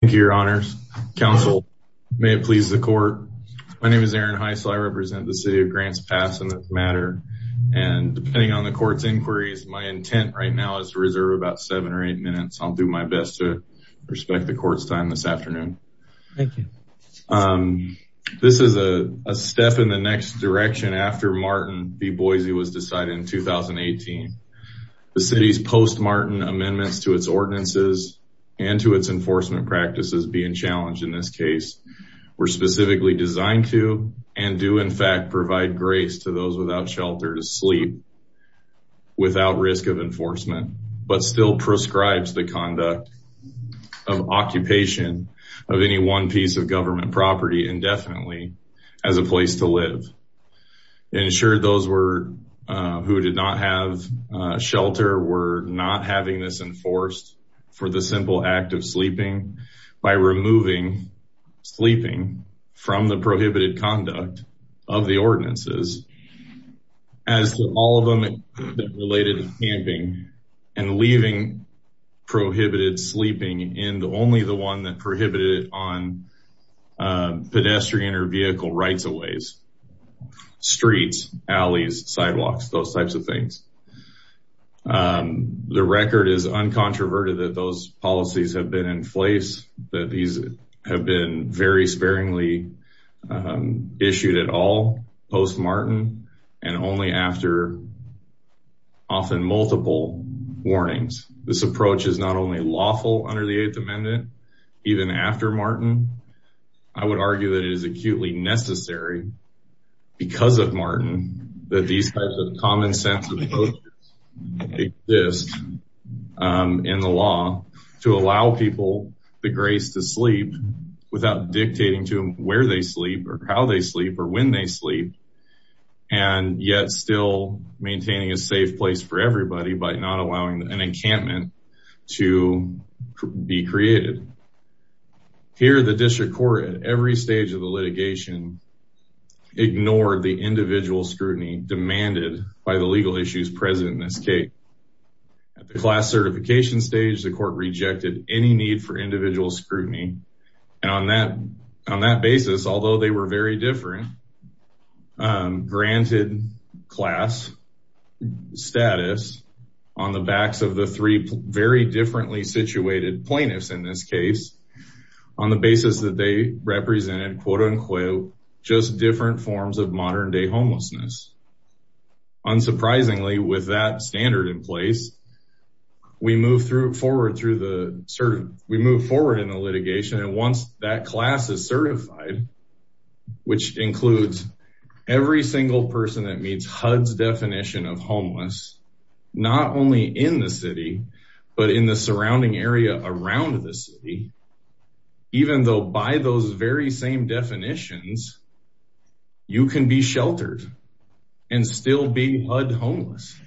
Thank you, Your Honors. Counsel, may it please the court. My name is Aaron Heisel. I represent the City of Grants Pass in this matter. And depending on the court's inquiries, my intent right now is to reserve about seven or eight minutes. I'll do my best to respect the court's time this afternoon. Thank you. This is a step in the next direction after Martin v. Boise was decided in 2018. The city's post-Martin amendments to its ordinances and to its enforcement practices being challenged in this case were specifically designed to, and do in fact, provide grace to those without shelter to sleep without risk of enforcement, but still prescribes the conduct of occupation of any one piece of government property indefinitely as a place to live. Ensured those who did not have shelter were not having this enforced for the by removing sleeping from the prohibited conduct of the ordinances as to all of them related to camping and leaving prohibited sleeping in only the one that prohibited on pedestrian or vehicle rights of ways, streets, alleys, the record is uncontroverted that those policies have been in place, that these have been very sparingly issued at all post-Martin and only after often multiple warnings. This approach is not only lawful under the eighth amendment, even after Martin, I would argue that it is acutely necessary because of Martin that these types of common sense approaches exist in the law to allow people the grace to sleep without dictating to them where they sleep or how they sleep or when they sleep and yet still maintaining a safe place for everybody, but not allowing an encampment to be created. Here, the district court at every stage of the litigation ignored the by the legal issues present in this case. At the class certification stage, the court rejected any need for individual scrutiny and on that basis, although they were very different, granted class status on the backs of the three very differently situated plaintiffs in this case, on the basis that they represented quote unquote, just different forms of modern day homelessness. Unsurprisingly with that standard in place, we move forward in the litigation and once that class is certified, which includes every single person that meets HUD's definition of homeless, not only in the city, but in the surrounding area around the city, even though by those very same definitions, you can be HUD homeless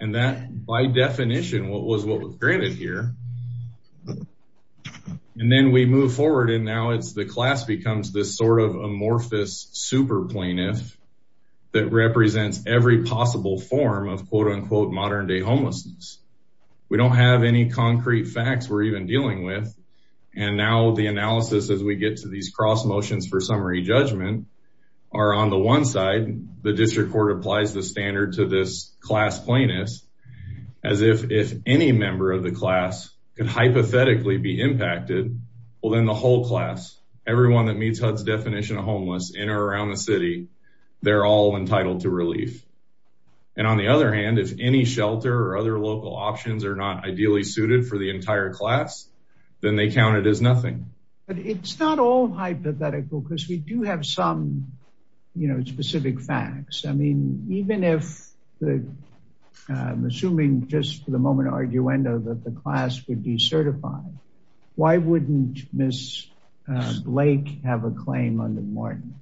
and that by definition, what was what was granted here. And then we move forward and now it's the class becomes this sort of amorphous super plaintiff that represents every possible form of quote unquote, modern day homelessness. We don't have any concrete facts we're even dealing with. And now the analysis, as we get to these cross motions for summary judgment, are on the one side, the district court applies the standard to this class plaintiff as if any member of the class could hypothetically be impacted, well then the whole class, everyone that meets HUD's definition of homeless in or around the city, they're all entitled to relief. And on the other hand, if any shelter or other local options are not ideally suited for the entire class, then they count it as nothing. But it's not all hypothetical because we do have some, you know, specific facts. I mean, even if the, I'm assuming just for the moment arguendo that the class would be certified, why wouldn't Miss Blake have a claim under Martin?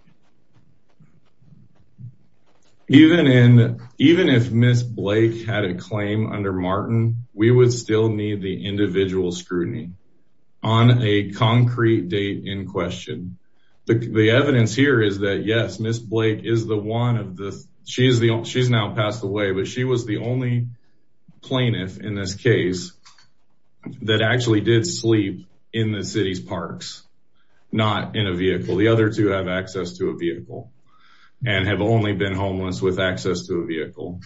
Even in, even if Miss Blake had a claim under Martin, we would still need the individual scrutiny on a concrete date in question. The evidence here is that yes, Miss Blake is the one of the, she's now passed away, but she was the only plaintiff in this case that actually did sleep in the city's parks, not in a vehicle, the other two have access to a vehicle and have only been homeless with access to a vehicle.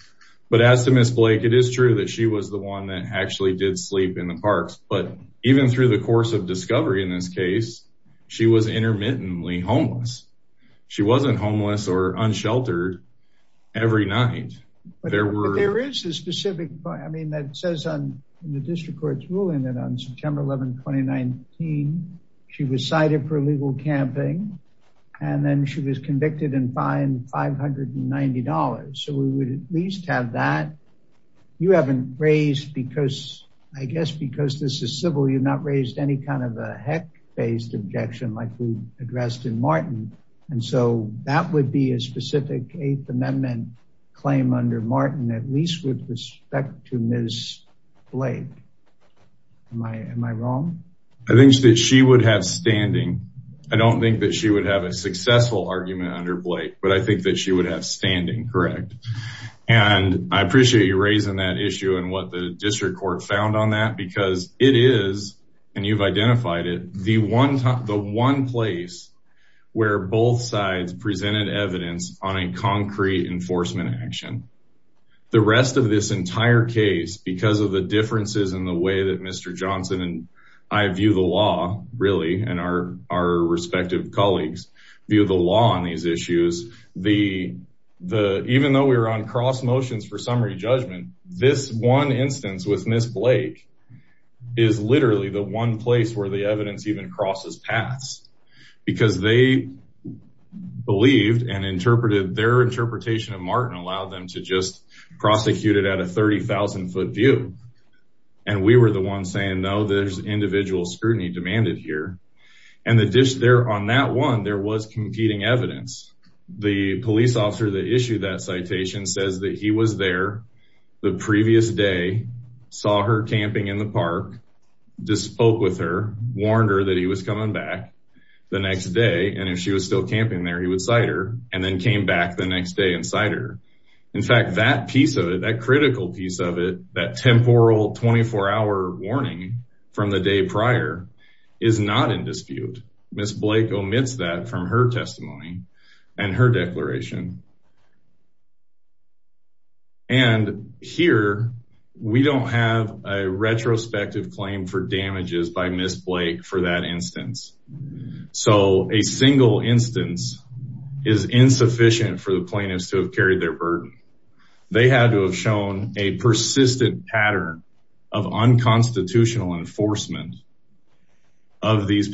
But as to Miss Blake, it is true that she was the one that actually did sleep in the parks, but even through the course of discovery in this case, she was intermittently homeless. She wasn't homeless or unsheltered every night. But there is a specific, I mean, that says on the district court's ruling that on September 11th, 2019, she was cited for illegal camping and then she was convicted and fined $590. So we would at least have that. You haven't raised because, I guess, because this is civil, you've not raised any kind of a heck based objection like we addressed in Martin. And so that would be a specific eighth amendment claim under Martin, at least with respect to Miss Blake. Am I, am I wrong? I think that she would have standing. I don't think that she would have a successful argument under Blake, but I think that she would have standing, correct. And I appreciate you raising that issue and what the district court found on that, because it is, and you've identified it, the one time, the one place where both sides presented evidence on a concrete enforcement action. The rest of this entire case, because of the differences in the way that Mr. Johnson and I view the law really, and our, our respective colleagues view the law on these issues. The, the, even though we were on cross motions for summary judgment, this one instance with Miss Blake is literally the one place where the evidence even crosses paths because they believed and interpreted their interpretation of Martin allowed them to just prosecute it at a 30,000 foot view. And we were the ones saying, no, there's individual scrutiny demanded here. And the dish there on that one, there was competing evidence. The police officer that issued that citation says that he was there the previous day, saw her camping in the park, just spoke with her, warned her that he was coming back the next day. And if she was still camping there, he would cite her and then came back the next day and cite her. In fact, that piece of it, that critical piece of it, that temporal 24 hour warning from the day prior is not in dispute. Miss Blake omits that from her testimony and her declaration. And here we don't have a retrospective claim for damages by Miss Blake for that instance. So a single instance is insufficient for the plaintiffs to have carried their burden. They had to have shown a persistent pattern of unconstitutional enforcement of these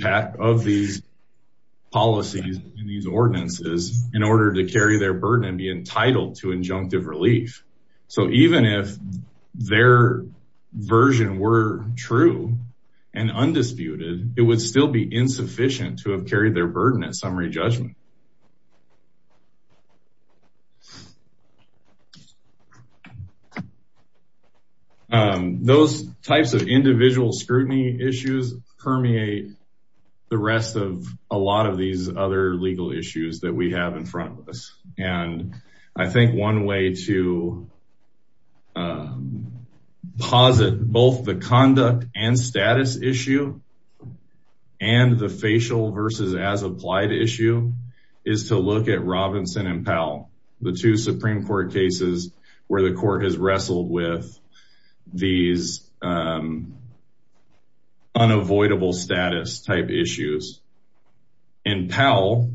policies and these ordinances in order to carry their burden and be entitled to injunctive relief. So even if their version were true and undisputed, it would still be insufficient to have carried their burden at summary judgment. Um, those types of individual scrutiny issues permeate the rest of a lot of these other legal issues that we have in front of us, and I think one way to posit both the conduct and status issue and the facial versus as applied issue is to look at Robinson and Powell, the two Supreme Court cases where the court has wrestled with these, um, unavoidable status type issues. In Powell,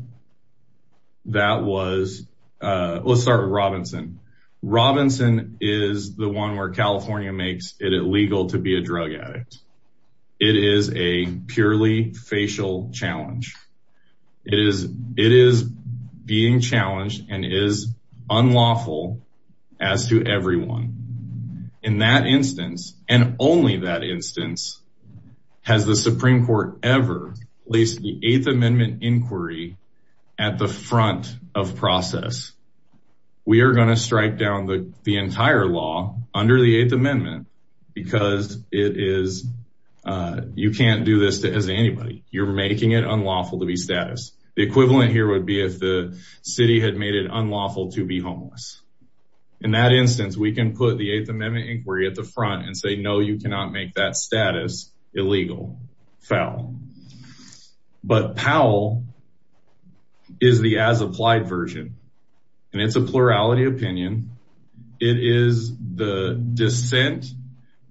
that was, uh, let's start with Robinson. Robinson is the one where California makes it illegal to be a drug addict. It is a purely facial challenge. It is, it is being challenged and is unlawful as to everyone. In that instance, and only that instance has the Supreme Court ever placed the eighth amendment inquiry at the front of process. We are going to strike down the entire law under the eighth amendment because it is, uh, you can't do this as anybody. You're making it unlawful to be status. The equivalent here would be if the city had made it unlawful to be homeless. In that instance, we can put the eighth amendment inquiry at the front and say, no, you cannot make that status illegal, foul, but Powell is the as applied version and it's a plurality opinion. It is the dissent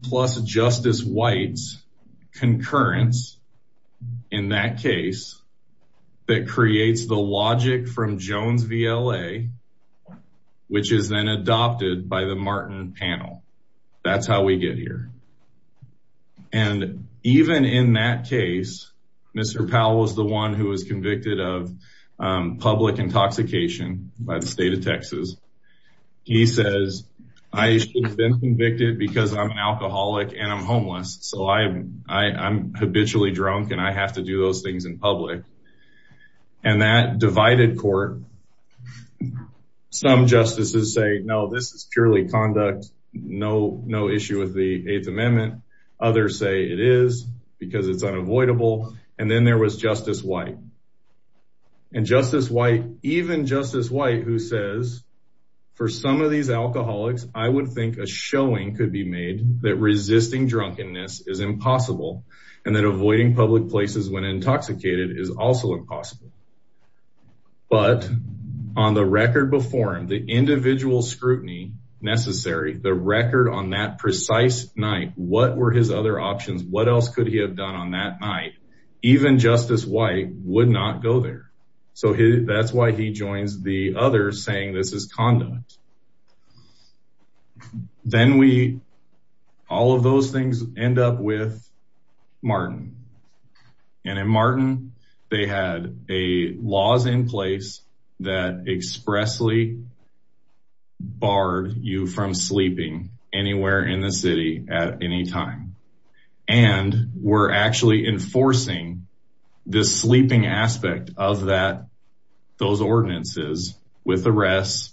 plus Justice White's concurrence in that case that creates the logic from Jones VLA, which is then adopted by the Martin panel. That's how we get here. And even in that case, Mr. Powell was the one who was convicted of public intoxication by the state of Texas. He says, I should have been convicted because I'm an alcoholic and I'm homeless. So I'm, I'm habitually drunk and I have to do those things in public. And that divided court, some justices say, no, this is purely conduct. No, no issue with the eighth amendment. Others say it is because it's unavoidable. And then there was Justice White. And Justice White, even Justice White, who says for some of these alcoholics, I would think a showing could be made that resisting drunkenness is impossible. And then avoiding public places when intoxicated is also impossible. But on the record before him, the individual scrutiny necessary, the record on that precise night, what were his other options? What else could he have done on that night? Even Justice White would not go there. So that's why he joins the others saying this is conduct. Then we, all of those things end up with Martin. And in Martin, they had a laws in place that expressly barred you from sleeping anywhere in the city at any time. And we're actually enforcing the sleeping aspect of that, those ordinances with arrests,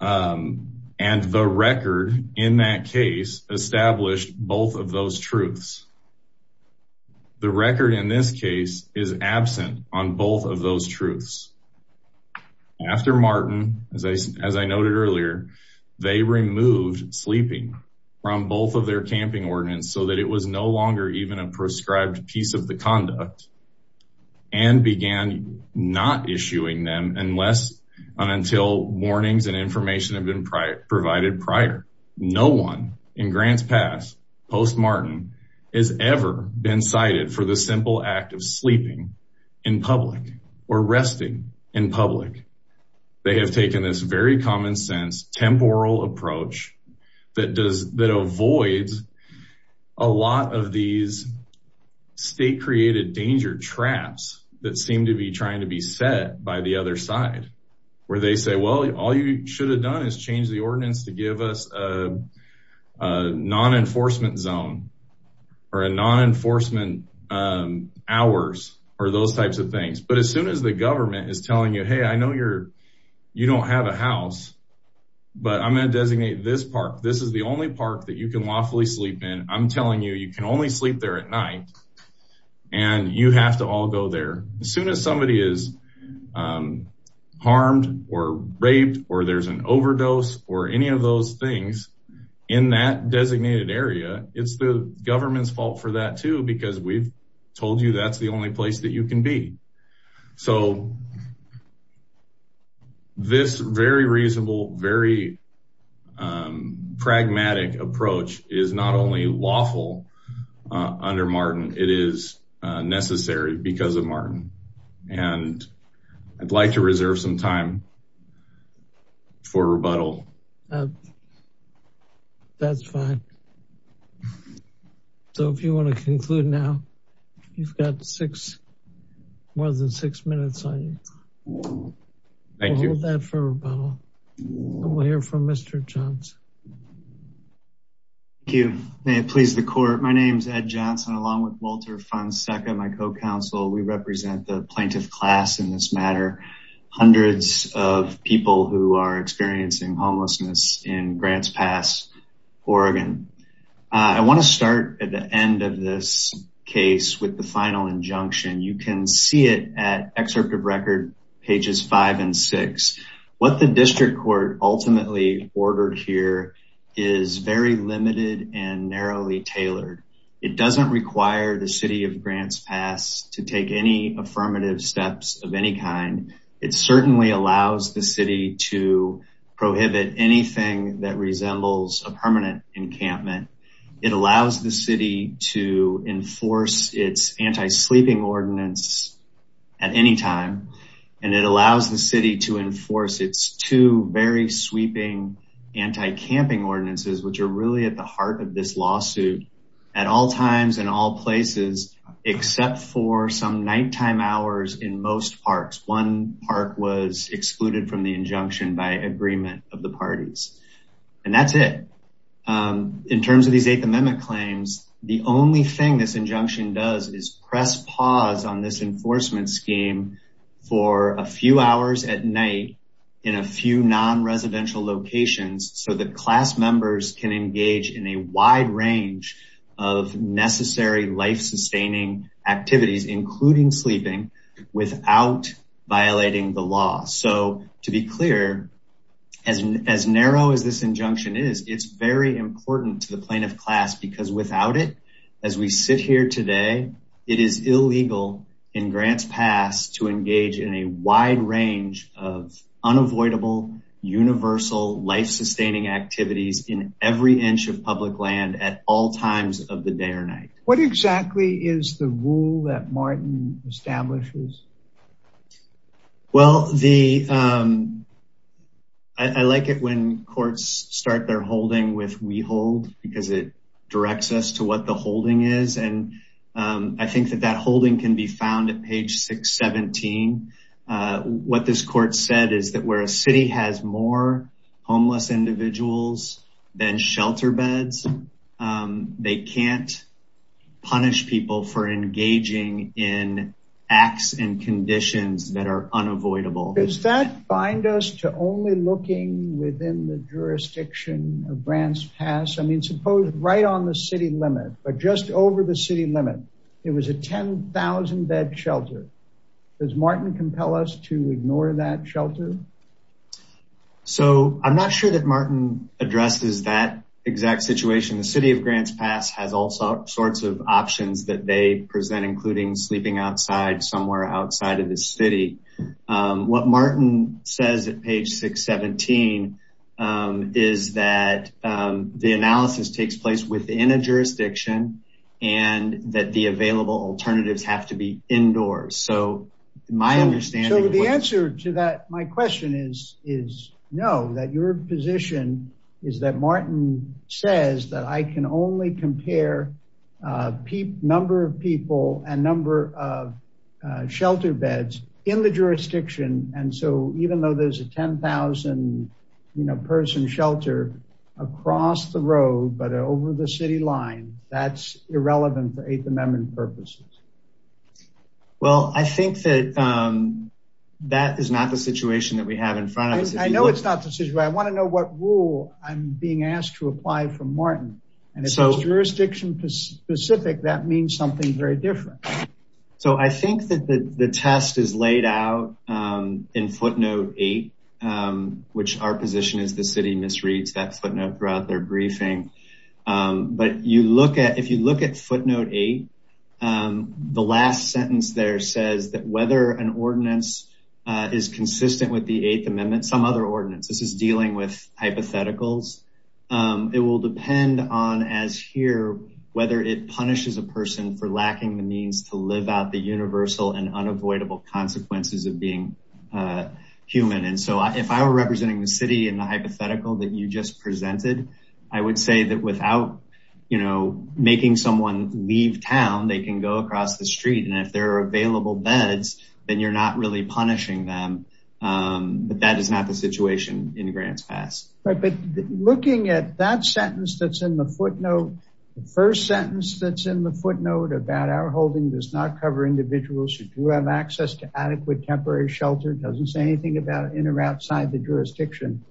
and the record in that case established both of those truths, the record in this case is absent on both of those truths. After Martin, as I noted earlier, they removed sleeping from both of their camping ordinance so that it was no longer even a prescribed piece of the conduct and began not issuing them unless and until warnings and information had been provided prior. No one in Grant's past, post Martin, has ever been cited for the simple act of sleeping in public or resting in public. They have taken this very common sense temporal approach that avoids a lot of these state created danger traps that seem to be trying to be set by the other side where they say, well, all you should have done is change the ordinance to give us a non-enforcement zone or a non-enforcement hours or those types of things, you don't have a house, but I'm going to designate this park. This is the only park that you can lawfully sleep in. I'm telling you, you can only sleep there at night and you have to all go there. As soon as somebody is harmed or raped, or there's an overdose or any of those things in that designated area, it's the government's fault for that too, because we've told you that's the only place that you can be. So this very reasonable, very pragmatic approach is not only lawful under Martin, it is necessary because of Martin. And I'd like to reserve some time for rebuttal. That's fine. So if you want to conclude now, you've got six, more than six minutes on you. We'll hold that for rebuttal and we'll hear from Mr. Johnson. Thank you. May it please the court. My name's Ed Johnson, along with Walter Fonseca, my co-counsel. We represent the plaintiff class in this matter. Hundreds of people who are experiencing homelessness in Grants Pass, Oregon. I want to start at the end of this case with the final injunction. You can see it at excerpt of record, pages five and six. What the district court ultimately ordered here is very limited and narrowly tailored. It doesn't require the city of Grants Pass to take any affirmative steps of any kind. It certainly allows the city to prohibit anything that It allows the city to enforce its anti-sleeping ordinance at any time. And it allows the city to enforce its two very sweeping anti-camping ordinances, which are really at the heart of this lawsuit at all times and all places, except for some nighttime hours in most parks. One park was excluded from the injunction by agreement of the parties. And that's it. In terms of these eighth amendment claims, the only thing this injunction does is press pause on this enforcement scheme for a few hours at night in a few non-residential locations so that class members can engage in a wide range of necessary life sustaining activities, including sleeping without violating the law. So to be clear, as narrow as this injunction is, it's very important to the plaintiff class because without it, as we sit here today, it is illegal in Grants Pass to engage in a wide range of unavoidable, universal life sustaining activities in every inch of public land at all times of the day or night. What exactly is the rule that Martin establishes? Well, I like it when courts start their holding with we hold, because it directs us to what the holding is. And I think that that holding can be found at page 617. What this court said is that where a city has more homeless individuals than shelter beds, they can't punish people for engaging in acts and conditions that are unavoidable. Does that bind us to only looking within the jurisdiction of Grants Pass? I mean, suppose right on the city limit, but just over the city limit, it was a 10,000 bed shelter. Does Martin compel us to ignore that shelter? So I'm not sure that Martin addresses that exact situation. The city of Grants Pass has all sorts of options that they present, including sleeping outside, somewhere outside of the city. What Martin says at page 617 is that the analysis takes place within a jurisdiction and that the available alternatives have to be indoors. So my understanding... So the answer to that, my question is no, that your position is that Martin says that I can only compare number of people and number of shelter beds in the jurisdiction, and so even though there's a 10,000 person shelter across the road, but over the city line, that's irrelevant for Eighth Amendment purposes. Well, I think that that is not the situation that we have in front of us. I know it's not the situation. But I want to know what rule I'm being asked to apply from Martin. And if it's jurisdiction specific, that means something very different. So I think that the test is laid out in footnote eight, which our position is the city misreads that footnote throughout their briefing. But if you look at footnote eight, the last sentence there says that whether an ordinance is consistent with the Eighth Amendment, some other ordinance, this is dealing with hypotheticals, it will depend on as here, whether it punishes a person for lacking the means to live out the universal and unavoidable consequences of being human. And so if I were representing the city in the hypothetical that you just presented, I would say that without, you know, making someone leave town, they can go across the street. And if there are available beds, then you're not really punishing them. But that is not the situation in Grants Pass. But looking at that sentence that's in the footnote, the first sentence that's in the footnote about our holding does not cover individuals who do have access to adequate temporary shelter doesn't say anything about in or outside the jurisdiction.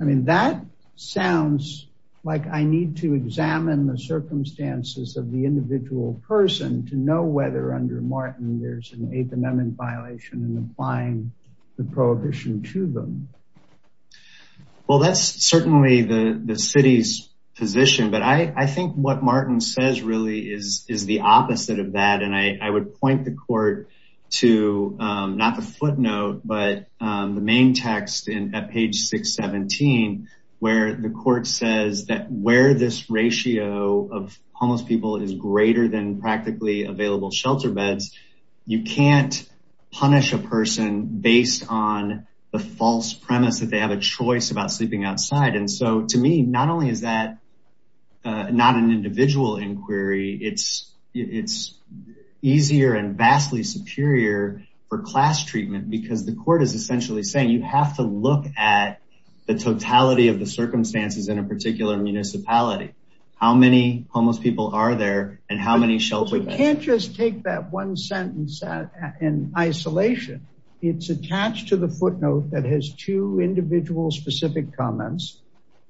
I mean, that sounds like I need to examine the circumstances of the individual person to know whether under Martin, there's an Eighth Amendment violation and applying the prohibition to them. Well, that's certainly the city's position, but I think what Martin says really is the opposite of that. And I would point the court to not the footnote, but the main text at page 617, where the court says that where this ratio of homeless people is greater than practically available shelter beds, you can't punish a person based on the false premise that they have a choice about sleeping outside. And so to me, not only is that not an individual inquiry, it's easier and vastly superior for class treatment because the court is essentially saying you have to look at the totality of the circumstances in a particular municipality. How many homeless people are there and how many shelter? We can't just take that one sentence in isolation. It's attached to the footnote that has two individual specific comments.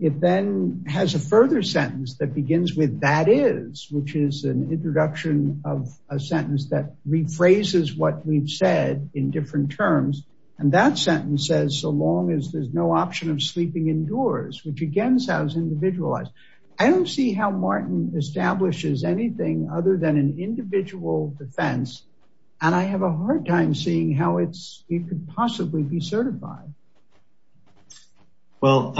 It then has a further sentence that begins with that is, which is an introduction of a sentence that rephrases what we've said in different terms. And that sentence says so long as there's no option of sleeping indoors, which again sounds individualized. I don't see how Martin establishes anything other than an individual defense. And I have a hard time seeing how it could possibly be certified. Well,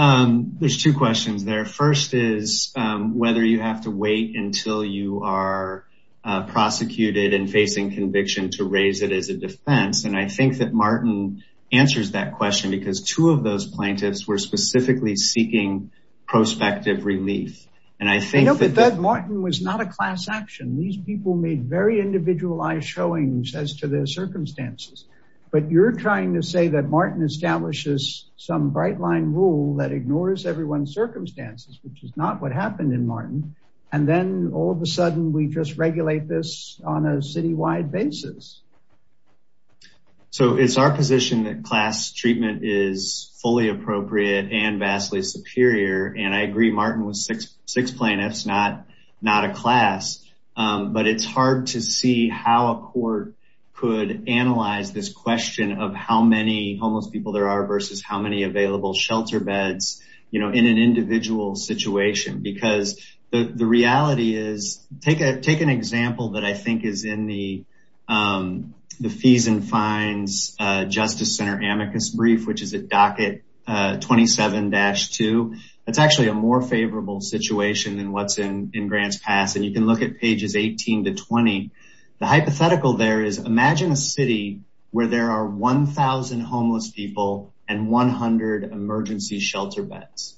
there's two questions there. First is whether you have to wait until you are prosecuted and facing conviction to raise it as a defense. And I think that Martin answers that question because two of those plaintiffs were prospective relief. And I think that Martin was not a class action. These people made very individualized showings as to their circumstances. But you're trying to say that Martin establishes some bright line rule that ignores everyone's circumstances, which is not what happened in Martin. And then all of a sudden we just regulate this on a citywide basis. So it's our position that class treatment is fully appropriate and vastly superior. And I agree Martin was six six plaintiffs, not a class, but it's hard to see how a court could analyze this question of how many homeless people there are versus how many available shelter beds in an individual situation. Because the reality is, take an example that I think is in the Fees and Fines Justice Center amicus brief, which is a docket 27-2, that's actually a more favorable situation than what's in Grants Pass. And you can look at pages 18 to 20. The hypothetical there is imagine a city where there are 1000 homeless people and 100 emergency shelter beds.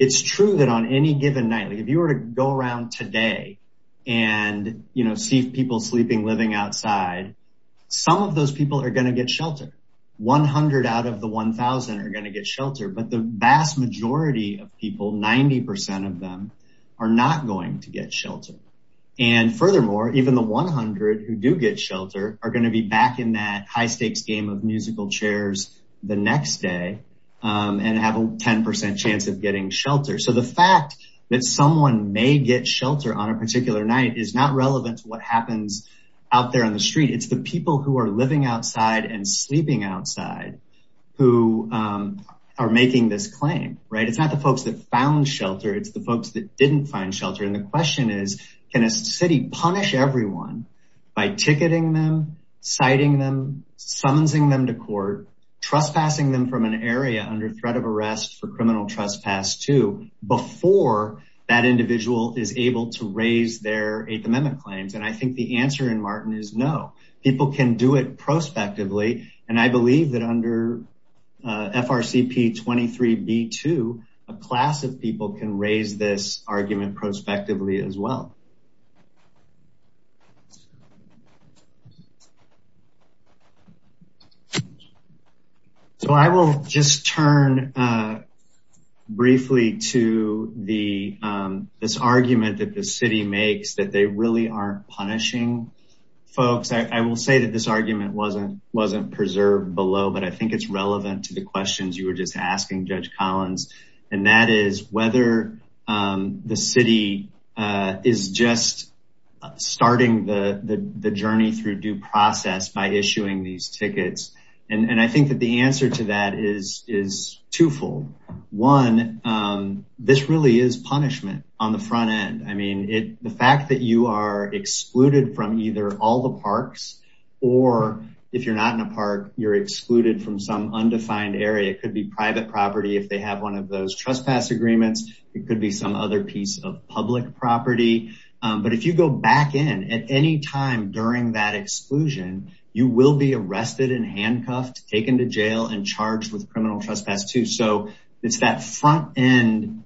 It's true that on any given night, if you were to go around today and see people sleeping, living outside, some of those people are going to get shelter. 100 out of the 1000 are going to get shelter. But the vast majority of people, 90 percent of them, are not going to get shelter. And furthermore, even the 100 who do get shelter are going to be back in that high 10 percent chance of getting shelter. So the fact that someone may get shelter on a particular night is not relevant to what happens out there on the street. It's the people who are living outside and sleeping outside who are making this claim. Right. It's not the folks that found shelter. It's the folks that didn't find shelter. And the question is, can a city punish everyone by ticketing them, citing them, summonsing them to court, trespassing them from an area under threat of arrest for criminal trespass too, before that individual is able to raise their Eighth Amendment claims? And I think the answer in Martin is no. People can do it prospectively. And I believe that under FRCP 23 B-2, a class of people can raise this argument prospectively as well. So I will just turn briefly to this argument that the city makes that they really aren't punishing folks. I will say that this argument wasn't preserved below, but I think it's relevant to the questions you were just asking, Judge Collins. And that is whether the city is just starting the journey through due process by issuing these tickets. And I think that the answer to that is twofold. One, this really is punishment on the front end. I mean, the fact that you are excluded from either all the parks or if you're not in a park, you're excluded from some undefined area. It could be private property. If they have one of those trespass agreements, it could be some other piece of public property. But if you go back in at any time during that exclusion, you will be arrested and handcuffed, taken to jail and charged with criminal trespass, too. So it's that front end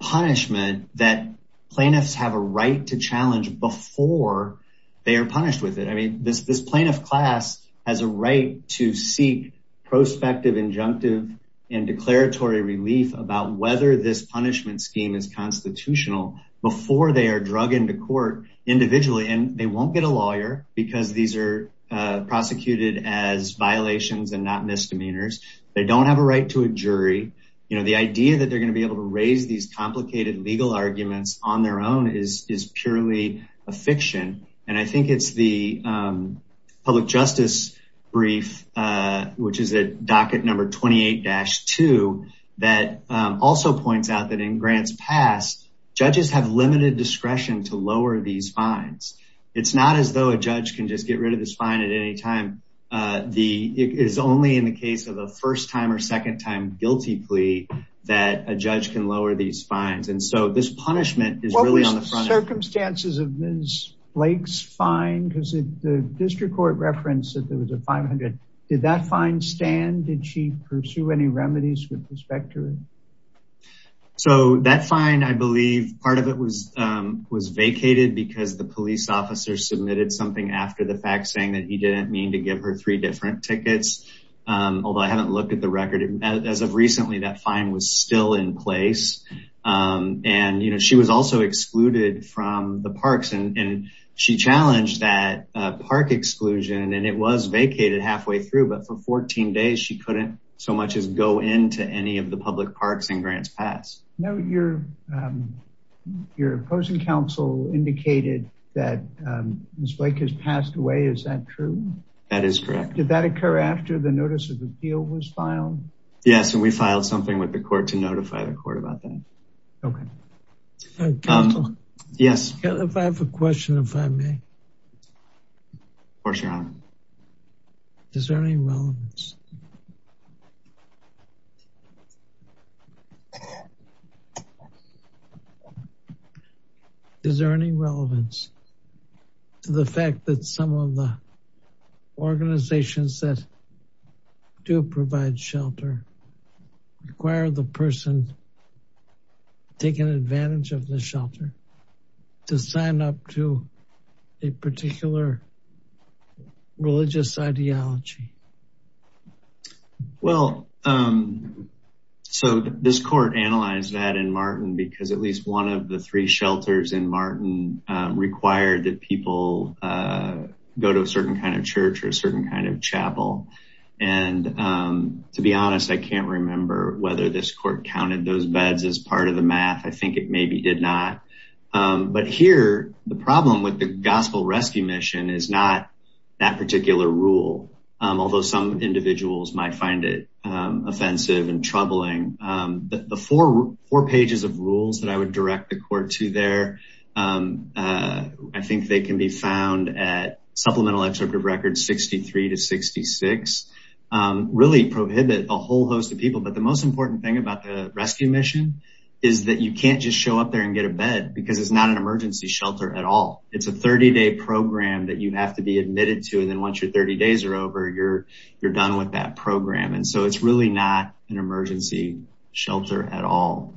punishment that plaintiffs have a right to challenge before they are punished with it. I mean, this plaintiff class has a right to seek prospective, injunctive and declaratory relief about whether this punishment scheme is constitutional before they are drug into court individually. And they won't get a lawyer because these are prosecuted as violations and not misdemeanors. They don't have a right to a jury. You know, the idea that they're going to be able to raise these complicated legal arguments on their own is purely a fiction. And I think it's the public justice brief, which is a docket number 28-2, that also points out that in grants passed, judges have limited discretion to lower these fines. It's not as though a judge can just get rid of this fine at any time. It is only in the case of a first time or second time guilty plea that a judge can lower these fines. And so this punishment is really on the front end. What was the circumstances of Ms. Blake's fine? Because the district court referenced that there was a 500. Did that fine stand? Did she pursue any remedies with respect to it? So that fine, I believe part of it was vacated because the police officer submitted something after the fact saying that he didn't mean to give her three different tickets. Although I haven't looked at the record as of recently, that fine was still in place. And, you know, she was also excluded from the parks and she challenged that park exclusion and it was vacated halfway through. But for 14 days, she couldn't so much as go into any of the public parks and grants passed. Now, your opposing counsel indicated that Ms. Blake has passed away. Is that true? That is correct. Did that occur after the notice of appeal was filed? Yes. And we filed something with the court to notify the court about that. Yes. If I have a question, if I may. Of course, Your Honor. Is there any relevance? Is there any relevance to the fact that some of the organizations that do provide shelter require the person taking advantage of the shelter to sign up to a particular religious ideology? Well, so this court analyzed that in Martin because at least one of the three shelters in Martin required that people go to a certain kind of church or a certain kind of chapel. And to be honest, I can't remember whether this court counted those beds as part of the math. I think it maybe did not. But here, the problem with the Gospel Rescue Mission is not that particular rule, although some individuals might find it offensive and troubling. The four pages of rules that I would direct the court to there, I think they can be found at Supplemental Excerptive Records 63 to 66, really prohibit a whole host of people. But the most important thing about the rescue mission is that you can't just show up there and get a bed because it's not an emergency shelter at all. It's a 30-day program that you have to be admitted to. And then once your 30 days are over, you're done with that program. And so it's really not an emergency shelter at all.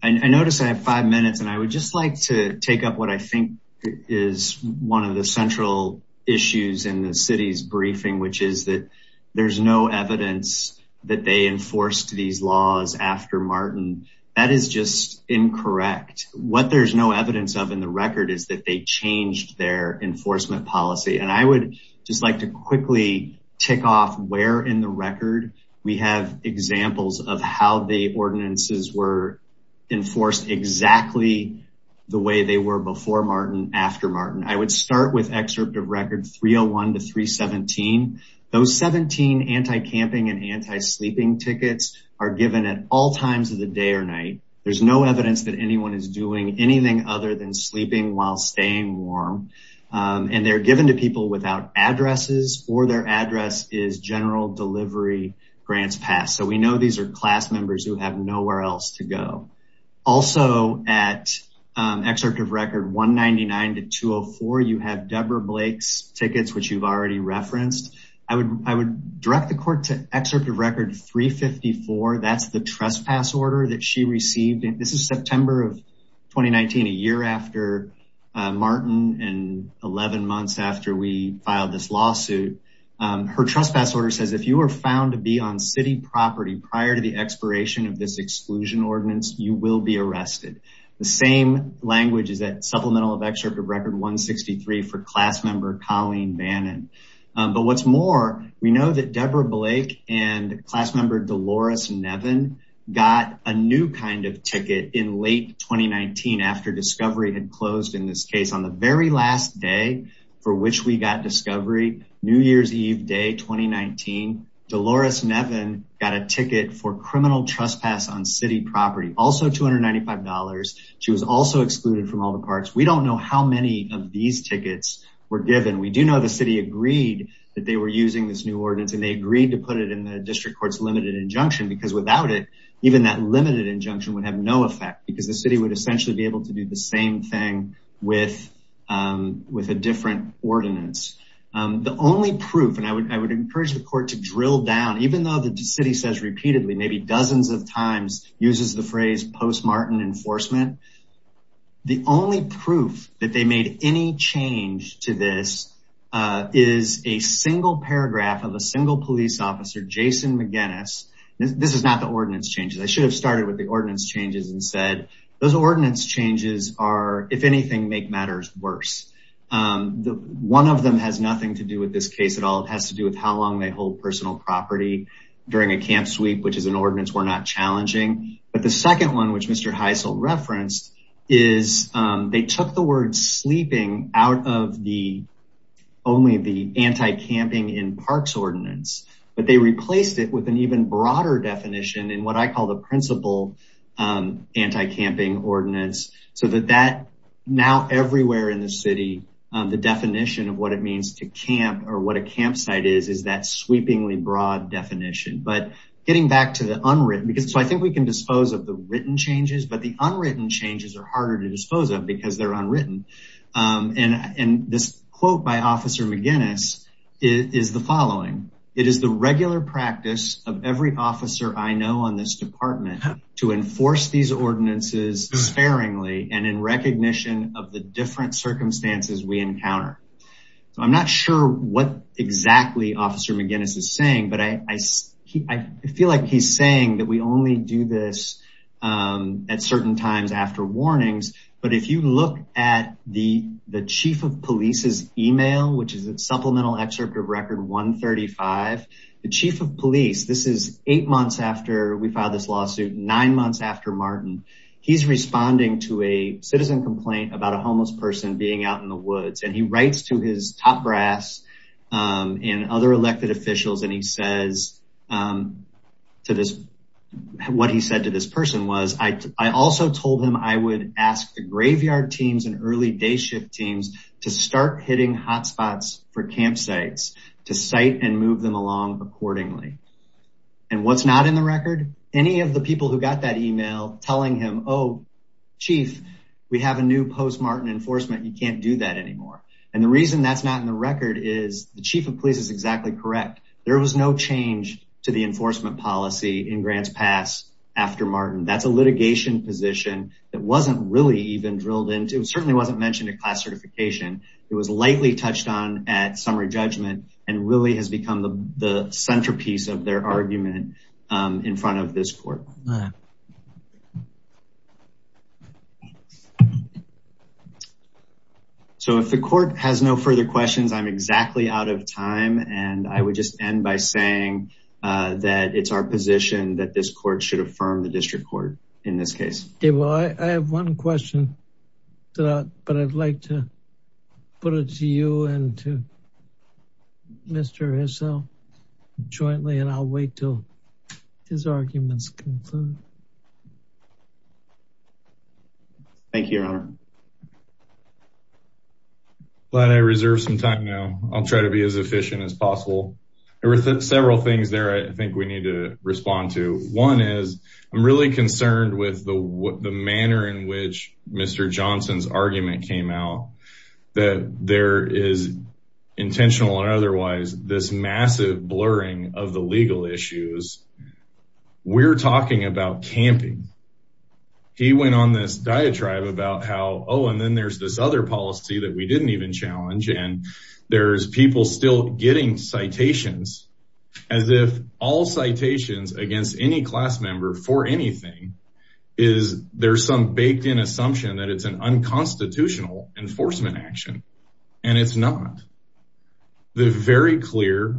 I noticed I have five minutes and I would just like to take up what I think is one of the central issues in the city's briefing, which is that there's no evidence that they enforced these laws after Martin. That is just incorrect. What there's no evidence of in the record is that they changed their enforcement policy. And I would just like to quickly tick off where in the record we have examples of how the ordinances were enforced exactly the way they were before Martin, after Martin. I would start with Excerptive Record 301 to 317. Those 17 anti-camping and anti-sleeping tickets are given at all times of the day or night. There's no evidence that anyone is doing anything other than sleeping while staying warm. And they're given to people without addresses or their address is General Delivery Grants Pass. So we know these are class members who have nowhere else to go. Also at Excerptive Record 199 to 204, you have Deborah Blake's tickets, which you've already referenced. I would direct the court to Excerptive Record 354. That's the trespass order that she received. This is September of 2019, a year after Martin and 11 months after we filed this lawsuit. Her trespass order says if you were found to be on city property prior to the expiration of this exclusion ordinance, you will be arrested. The same language is that supplemental of Excerptive Record 163 for class member Colleen Bannon. But what's more, we know that Deborah Blake and class member Dolores Nevin got a new kind of ticket in late 2019 after Discovery had closed in this case. On the very last day for which we got Discovery, New Year's Eve day 2019, Dolores Nevin got a ticket for criminal trespass on city property, also $295. She was also excluded from all the parts. We don't know how many of these tickets were given. We do know the city agreed that they were using this new ordinance and they agreed to put it in District Court's limited injunction because without it, even that limited injunction would have no effect because the city would essentially be able to do the same thing with a different ordinance. The only proof and I would encourage the court to drill down, even though the city says repeatedly, maybe dozens of times, uses the phrase post-Martin enforcement. The only proof that they made any change to this is a single paragraph of a single police officer, Jason McGinnis. This is not the ordinance changes. I should have started with the ordinance changes and said those ordinance changes are, if anything, make matters worse. One of them has nothing to do with this case at all. It has to do with how long they hold personal property during a camp sweep, which is an ordinance we're not challenging. But the second one, which Mr. Heisel referenced, is they took the word sleeping out of the only the anti-camping in the city, but they replaced it with an even broader definition in what I call the principal anti-camping ordinance. So that now everywhere in the city, the definition of what it means to camp or what a campsite is, is that sweepingly broad definition. But getting back to the unwritten, because so I think we can dispose of the written changes, but the unwritten changes are harder to dispose of because they're unwritten. And this quote by Officer McGinnis is the following. It is the regular practice of every officer I know on this department to enforce these ordinances sparingly and in recognition of the different circumstances we encounter. I'm not sure what exactly Officer McGinnis is saying, but I feel like he's saying that we only do this at certain times after warnings. But if you look at the chief of police's email, which is a supplemental excerpt of record 135, the chief of police, this is eight months after we filed this lawsuit, nine months after Martin, he's responding to a citizen complaint about a homeless person being out in the woods. And he writes to his top brass and other elected officials. And he says to this, what he said to this person was, I also told him I would ask the site and move them along accordingly. And what's not in the record? Any of the people who got that email telling him, oh, chief, we have a new post-Martin enforcement. You can't do that anymore. And the reason that's not in the record is the chief of police is exactly correct. There was no change to the enforcement policy in Grants Pass after Martin. That's a litigation position that wasn't really even drilled into. It certainly wasn't mentioned at class certification. It was lightly touched on at summary judgment and really has become the centerpiece of their argument in front of this court. So if the court has no further questions, I'm exactly out of time and I would just end by saying that it's our position that this court should affirm the district court in this Put it to you and to Mr. Hissell jointly and I'll wait till his arguments conclude. Thank you, your honor. Glad I reserved some time now. I'll try to be as efficient as possible. There were several things there I think we need to respond to. One is I'm really concerned with the manner in which Mr. Johnson's argument came out. That there is intentional or otherwise this massive blurring of the legal issues. We're talking about camping. He went on this diatribe about how, oh, and then there's this other policy that we didn't even challenge and there's people still getting citations as if all citations against any class member for anything is there's some baked in assumption that it's an unconstitutional enforcement action and it's not. The very clear,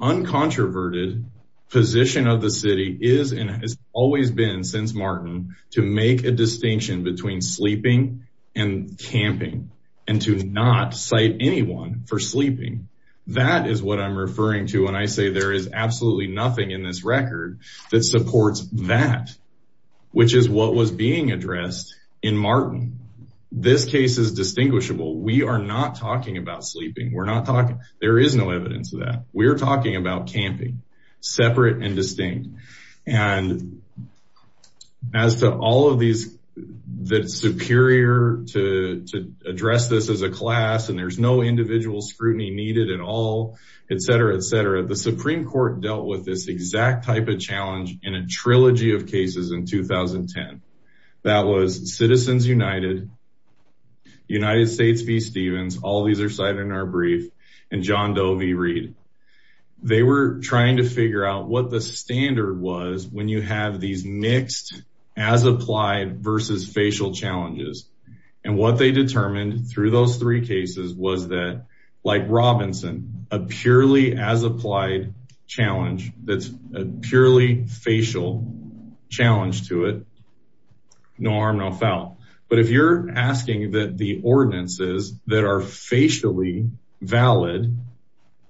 uncontroverted position of the city is and has always been since Martin to make a distinction between sleeping and camping and to not cite anyone for sleeping. That is what I'm referring to when I say there is absolutely nothing in this record that supports that, which is what was being addressed in Martin. This case is distinguishable. We are not talking about sleeping. We're not talking. There is no evidence of that. We're talking about camping, separate and distinct. And as to all of these, that it's superior to address this as a class and there's no individual scrutiny needed at all, et cetera, et cetera. The Supreme Court dealt with this exact type of challenge in a trilogy of cases in 2010. That was Citizens United, United States v. Stevens. All these are cited in our brief and John Doe v. Reed. They were trying to figure out what the standard was when you have these mixed as applied versus facial challenges. And what they determined through those three cases was that like Robinson, a purely as no harm, no foul. But if you're asking that the ordinances that are facially valid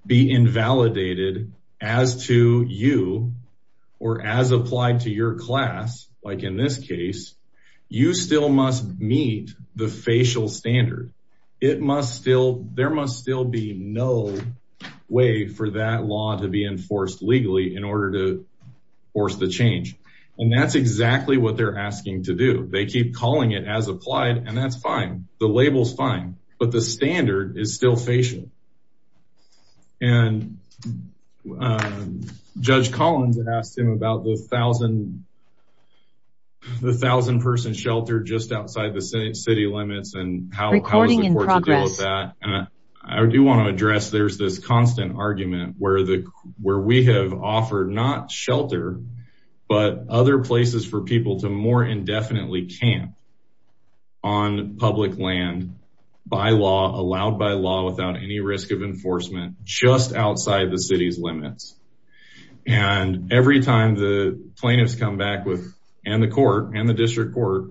be invalidated as to you or as applied to your class, like in this case, you still must meet the facial standard. It must still, there must still be no way for that law to be enforced legally in order to force the change. And that's exactly what they're asking to do. They keep calling it as applied and that's fine. The label's fine, but the standard is still facial. And Judge Collins asked him about the thousand person shelter just outside the city limits and how is the court to deal with that. And I do want to address there's this constant argument where we have offered not shelter, but other places for people to more indefinitely camp on public land by law, allowed by law without any risk of enforcement, just outside the city's limits. And every time the plaintiffs come back with, and the court and the district court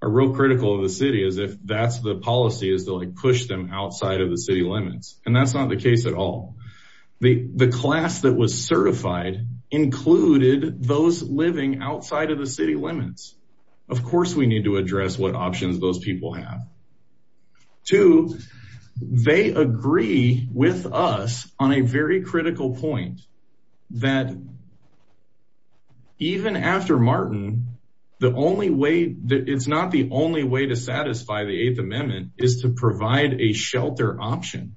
are real critical of the city as if that's the policy is to like push them outside of the city limits. And that's not the case at all. The class that was certified included those living outside of the city limits. Of course, we need to address what options those people have. Two, they agree with us on a very critical point that even after Martin, the only way that it's not the only way to satisfy the eighth amendment is to provide a shelter option.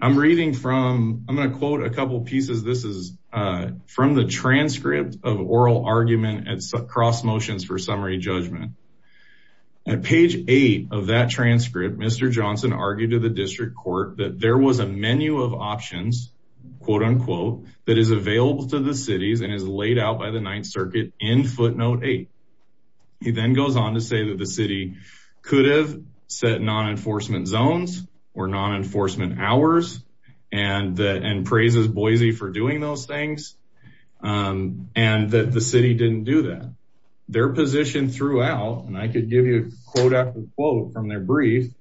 I'm reading from, I'm going to quote a couple of pieces. This is from the transcript of oral argument at cross motions for summary judgment. At page eight of that transcript, Mr. Johnson argued to the district court that there was a menu of options, quote unquote, that is available to the cities and is laid out by the ninth circuit in footnote eight. He then goes on to say that the city could have set non-enforcement zones or non-enforcement hours and that, and praises Boise for doing those things. And that the city didn't do that. Their position throughout, and I could give you quote after quote from their brief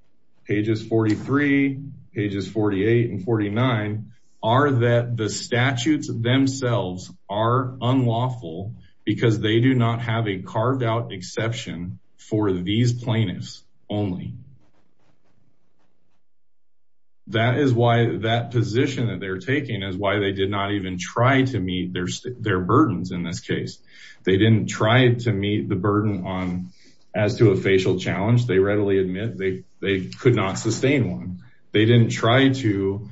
pages, 43 pages, 48 and 49 are that the statutes themselves are unlawful because they do not have a carved out exception for these plaintiffs only. That is why that position that they're taking is why they did not even try to meet their burdens in this case. They didn't try to meet the burden on as to a facial challenge. They readily admit they could not sustain one. They didn't try to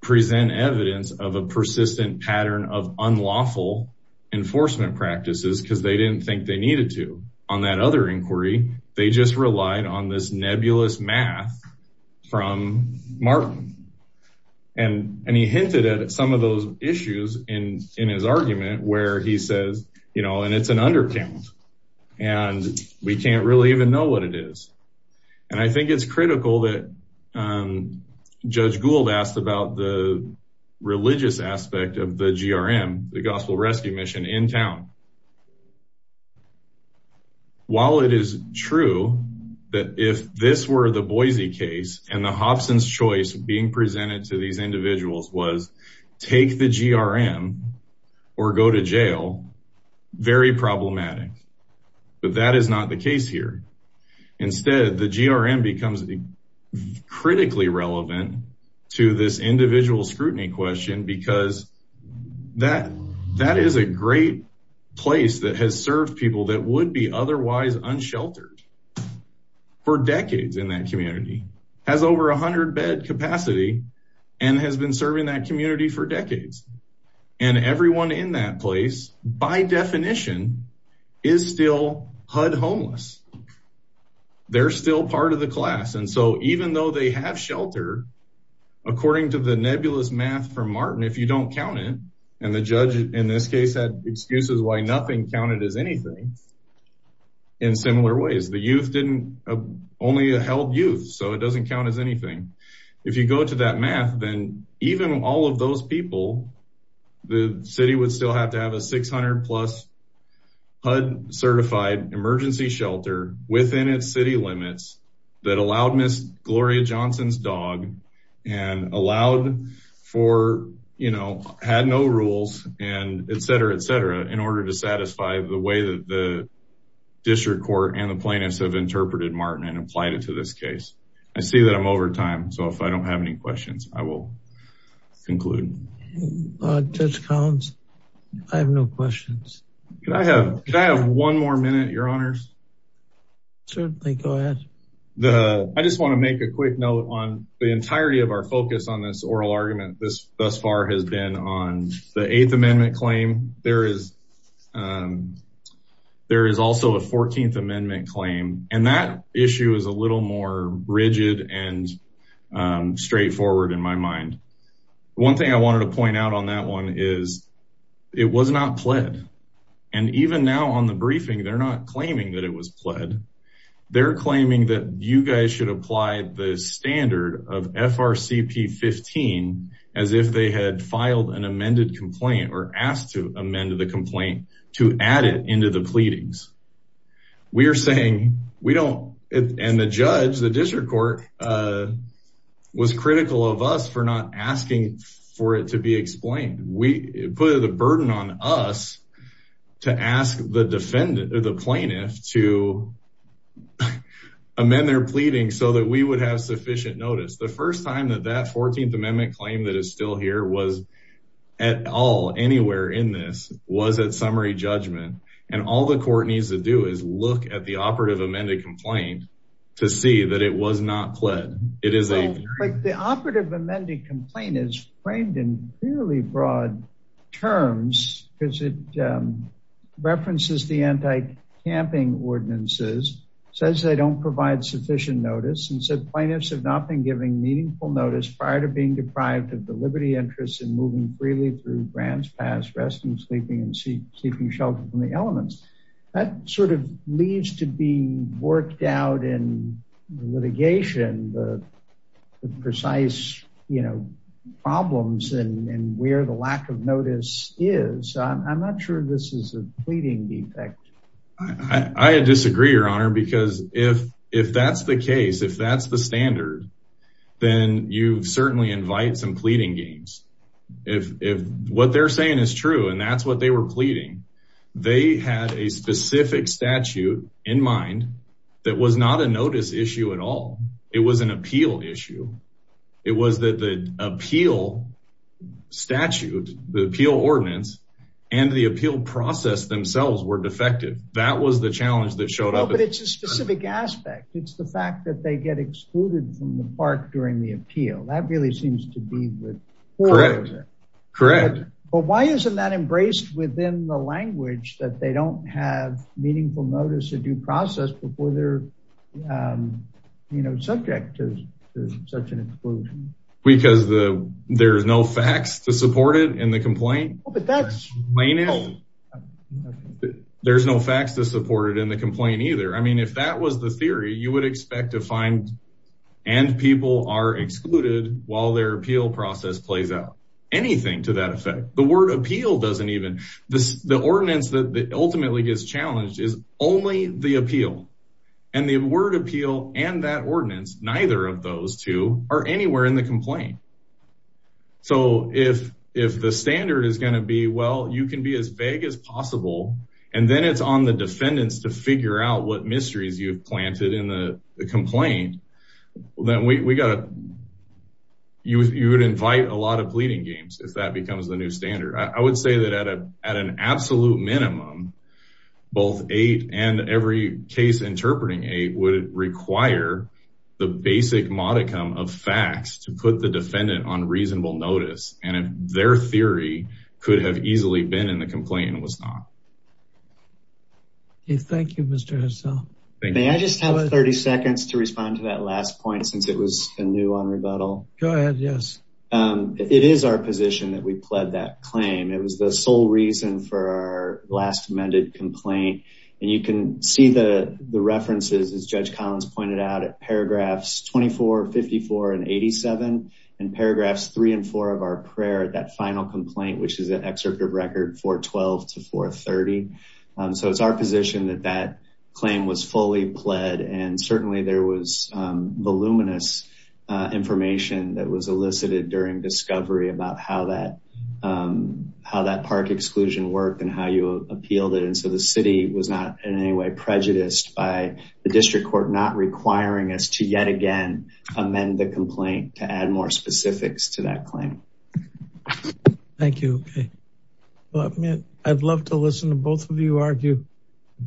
present evidence of a persistent pattern of unlawful enforcement practices because they didn't think they needed to. On that other inquiry, they just relied on this nebulous math from Martin. And he hinted at some of those issues in his argument where he says, you know, and it's an undercount and we can't really even know what it is. And I think it's critical that Judge Gould asked about the religious aspect of the gospel rescue mission in town. While it is true that if this were the Boise case and the Hobson's choice being presented to these individuals was take the GRM or go to jail, very problematic. But that is not the case here. Instead, the GRM becomes critically relevant to this individual scrutiny question because that is a great place that has served people that would be otherwise unsheltered for decades in that community, has over a hundred bed capacity and has been serving that community for decades. And everyone in that place by definition is still HUD homeless. They're still part of the class. And so even though they have shelter, according to the nebulous math from Martin, if you don't count it, and the judge in this case had excuses why nothing counted as anything in similar ways, the youth didn't, only held youth. So it doesn't count as anything. If you go to that math, then even all of those people, the city would still have to have a 600 plus HUD certified emergency shelter within its city limits that allowed Ms. Gloria Johnson's dog and allowed for, you know, had no rules and et cetera, et cetera, in order to satisfy the way that the district court and the plaintiffs have interpreted Martin and applied it to this case. I see that I'm over time. So if I don't have any questions, I will conclude. Judge Collins, I have no questions. Can I have one more minute, your honors? Certainly go ahead. The, I just want to make a quick note on the entirety of our focus on this oral argument thus far has been on the eighth amendment claim, there is, there is also a 14th amendment claim and that issue is a little more rigid and straightforward in my mind, one thing I wanted to point out on that one is it was not pled. And even now on the briefing, they're not claiming that it was pled. They're claiming that you guys should apply the standard of FRCP 15 as if they had filed an amended complaint or asked to amend the complaint to add it into the pleadings. We are saying we don't, and the judge, the district court was critical of us for not asking for it to be explained. We put the burden on us to ask the defendant or the plaintiff to amend their pleading so that we would have sufficient notice. The first time that that 14th amendment claim that is still here was at all anywhere in this was at summary judgment. And all the court needs to do is look at the operative amended complaint to see that it was not pled. It is like the operative amended complaint is framed in fairly broad terms because it references the anti camping ordinances says they don't provide sufficient notice and said plaintiffs have not been giving meaningful notice prior to being deprived of the Liberty interests and moving freely through grants, pass resting, sleeping, and see sleeping shelter from the elements that sort of leads to be worked out in litigation, the precise, you know, problems and where the lack of notice is. So I'm not sure this is a pleading defect. I disagree, your honor, because if, if that's the case, if that's the standard, then you certainly invite some pleading games if, if what they're saying is true and that's what they were pleading. They had a specific statute in mind that was not a notice issue at all. It was an appeal issue. It was that the appeal statute, the appeal ordinance and the appeal process themselves were defective. That was the challenge that showed up. But it's a specific aspect. It's the fact that they get excluded from the park during the appeal. That really seems to be the, correct. But why isn't that embraced within the language that they don't have meaningful notice to due process before they're, you know, subject to such an exclusion because the, there's no facts to support it in the complaint. There's no facts to support it in the complaint either. I mean, if that was the theory you would expect to find and people are excluded while their appeal process plays out, anything to that effect, the word appeal doesn't even, the ordinance that ultimately gets challenged is only the appeal and the word appeal and that ordinance, neither of those two are anywhere in the complaint. So if, if the standard is going to be, well, you can be as vague as possible. And then it's on the defendants to figure out what mysteries you've you would invite a lot of pleading games. If that becomes the new standard. I would say that at a, at an absolute minimum, both eight and every case interpreting eight would require the basic modicum of facts to put the defendant on reasonable notice. And if their theory could have easily been in the complaint and was not. Hey, thank you, Mr. Hassell. May I just have 30 seconds to respond to that last point since it was a new on rebuttal? Go ahead. Yes. It is our position that we pled that claim. It was the sole reason for our last amended complaint. And you can see the references as judge Collins pointed out at paragraphs 24, 54 and 87 and paragraphs three and four of our prayer at that final complaint, which is an excerpt of record 412 to 430. So it's our position that that claim was fully pled. And certainly there was voluminous information that was elicited during discovery about how that, how that park exclusion worked and how you appealed it. And so the city was not in any way prejudiced by the district court, not requiring us to yet again, amend the complaint to add more specifics to that claim. Thank you. I'd love to listen to both of you argue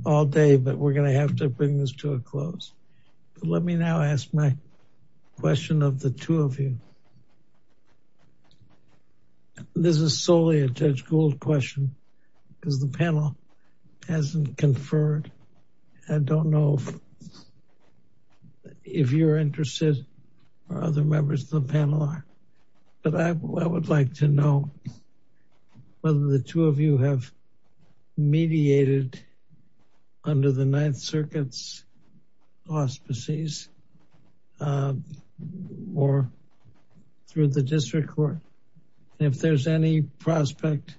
all day, but we're going to have to bring this to a close. Let me now ask my question of the two of you. This is solely a judge Gould question because the panel hasn't conferred. I don't know if you're interested or other members of the panel are, but I would like to know whether the two of you have mediated under the ninth circuits, auspices or through the district court. If there's any prospect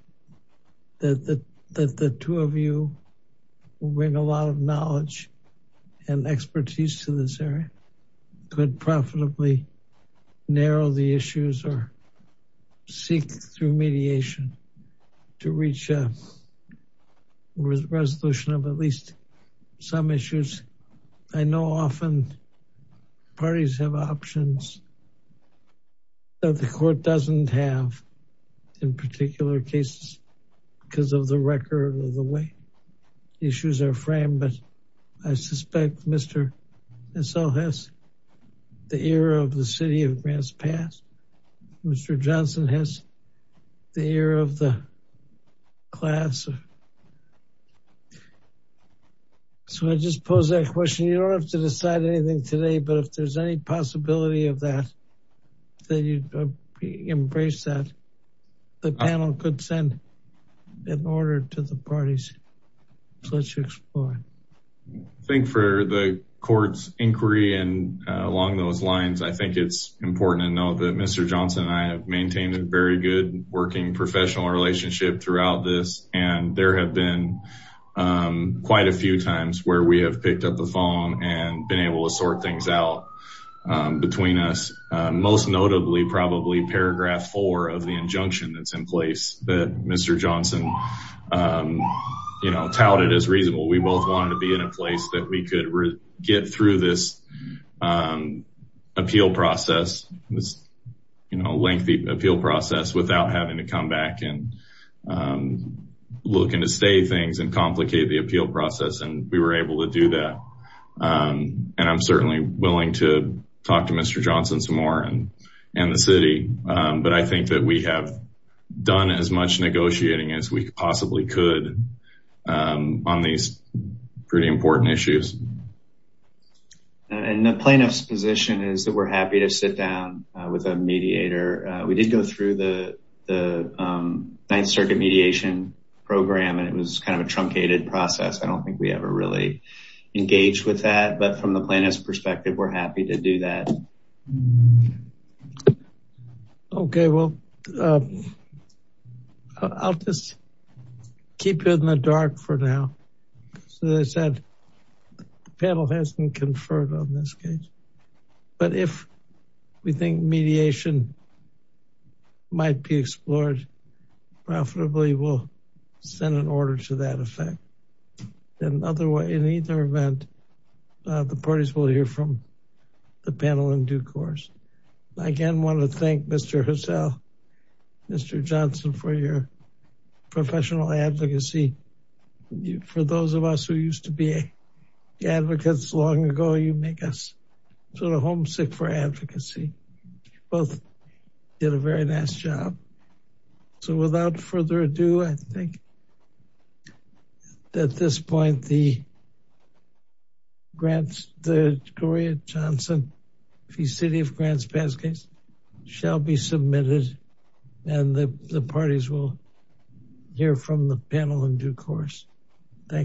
that the, that the two of you bring a lot of knowledge and expertise to this area, could profitably narrow the issues or seek through mediation to reach a resolution of at least some issues. I know often parties have options that the court doesn't have in particular cases because of the record or the way issues are framed. But I suspect Mr. Esau has the era of the city of Grants Pass. Mr. Johnson has the era of the class. So I just pose that question. You don't have to decide anything today, but if there's any possibility of that, that you embrace that the panel could send an order to the parties to let you explore. I think for the court's inquiry and along those lines, I think it's important to know that Mr. Johnson and I have maintained a very good working professional relationship throughout this, and there have been quite a few times where we have picked up the phone and been able to sort things out between us, most notably, probably paragraph four of the injunction that's in place that Mr. Johnson, you know, touted as reasonable. We both wanted to be in a place that we could get through this appeal process, this lengthy appeal process without having to come back and look into stay things and complicate the appeal process. And we were able to do that. And I'm certainly willing to talk to Mr. Johnson some more and the city. But I think that we have done as much negotiating as we possibly could on these pretty important issues. And the plaintiff's position is that we're happy to sit down with a mediator. We did go through the Ninth Circuit mediation program and it was kind of a truncated process. I don't think we ever really engaged with that, but from the plaintiff's perspective, we're happy to do that. Okay. Well, I'll just keep you in the dark for now. So as I said, the panel hasn't conferred on this case, but if we think mediation might be explored profitably, we'll send an order to that effect. In either event, the parties will hear from the panel in due course. I again want to thank Mr. Johnson for your professional advocacy. For those of us who used to be advocates long ago, you make us sort of homesick for advocacy. Both did a very nice job. So without further ado, I think at this point, the Gloria Johnson, the City of Grants past case shall be submitted and the parties will hear from the panel in due course. Thank you.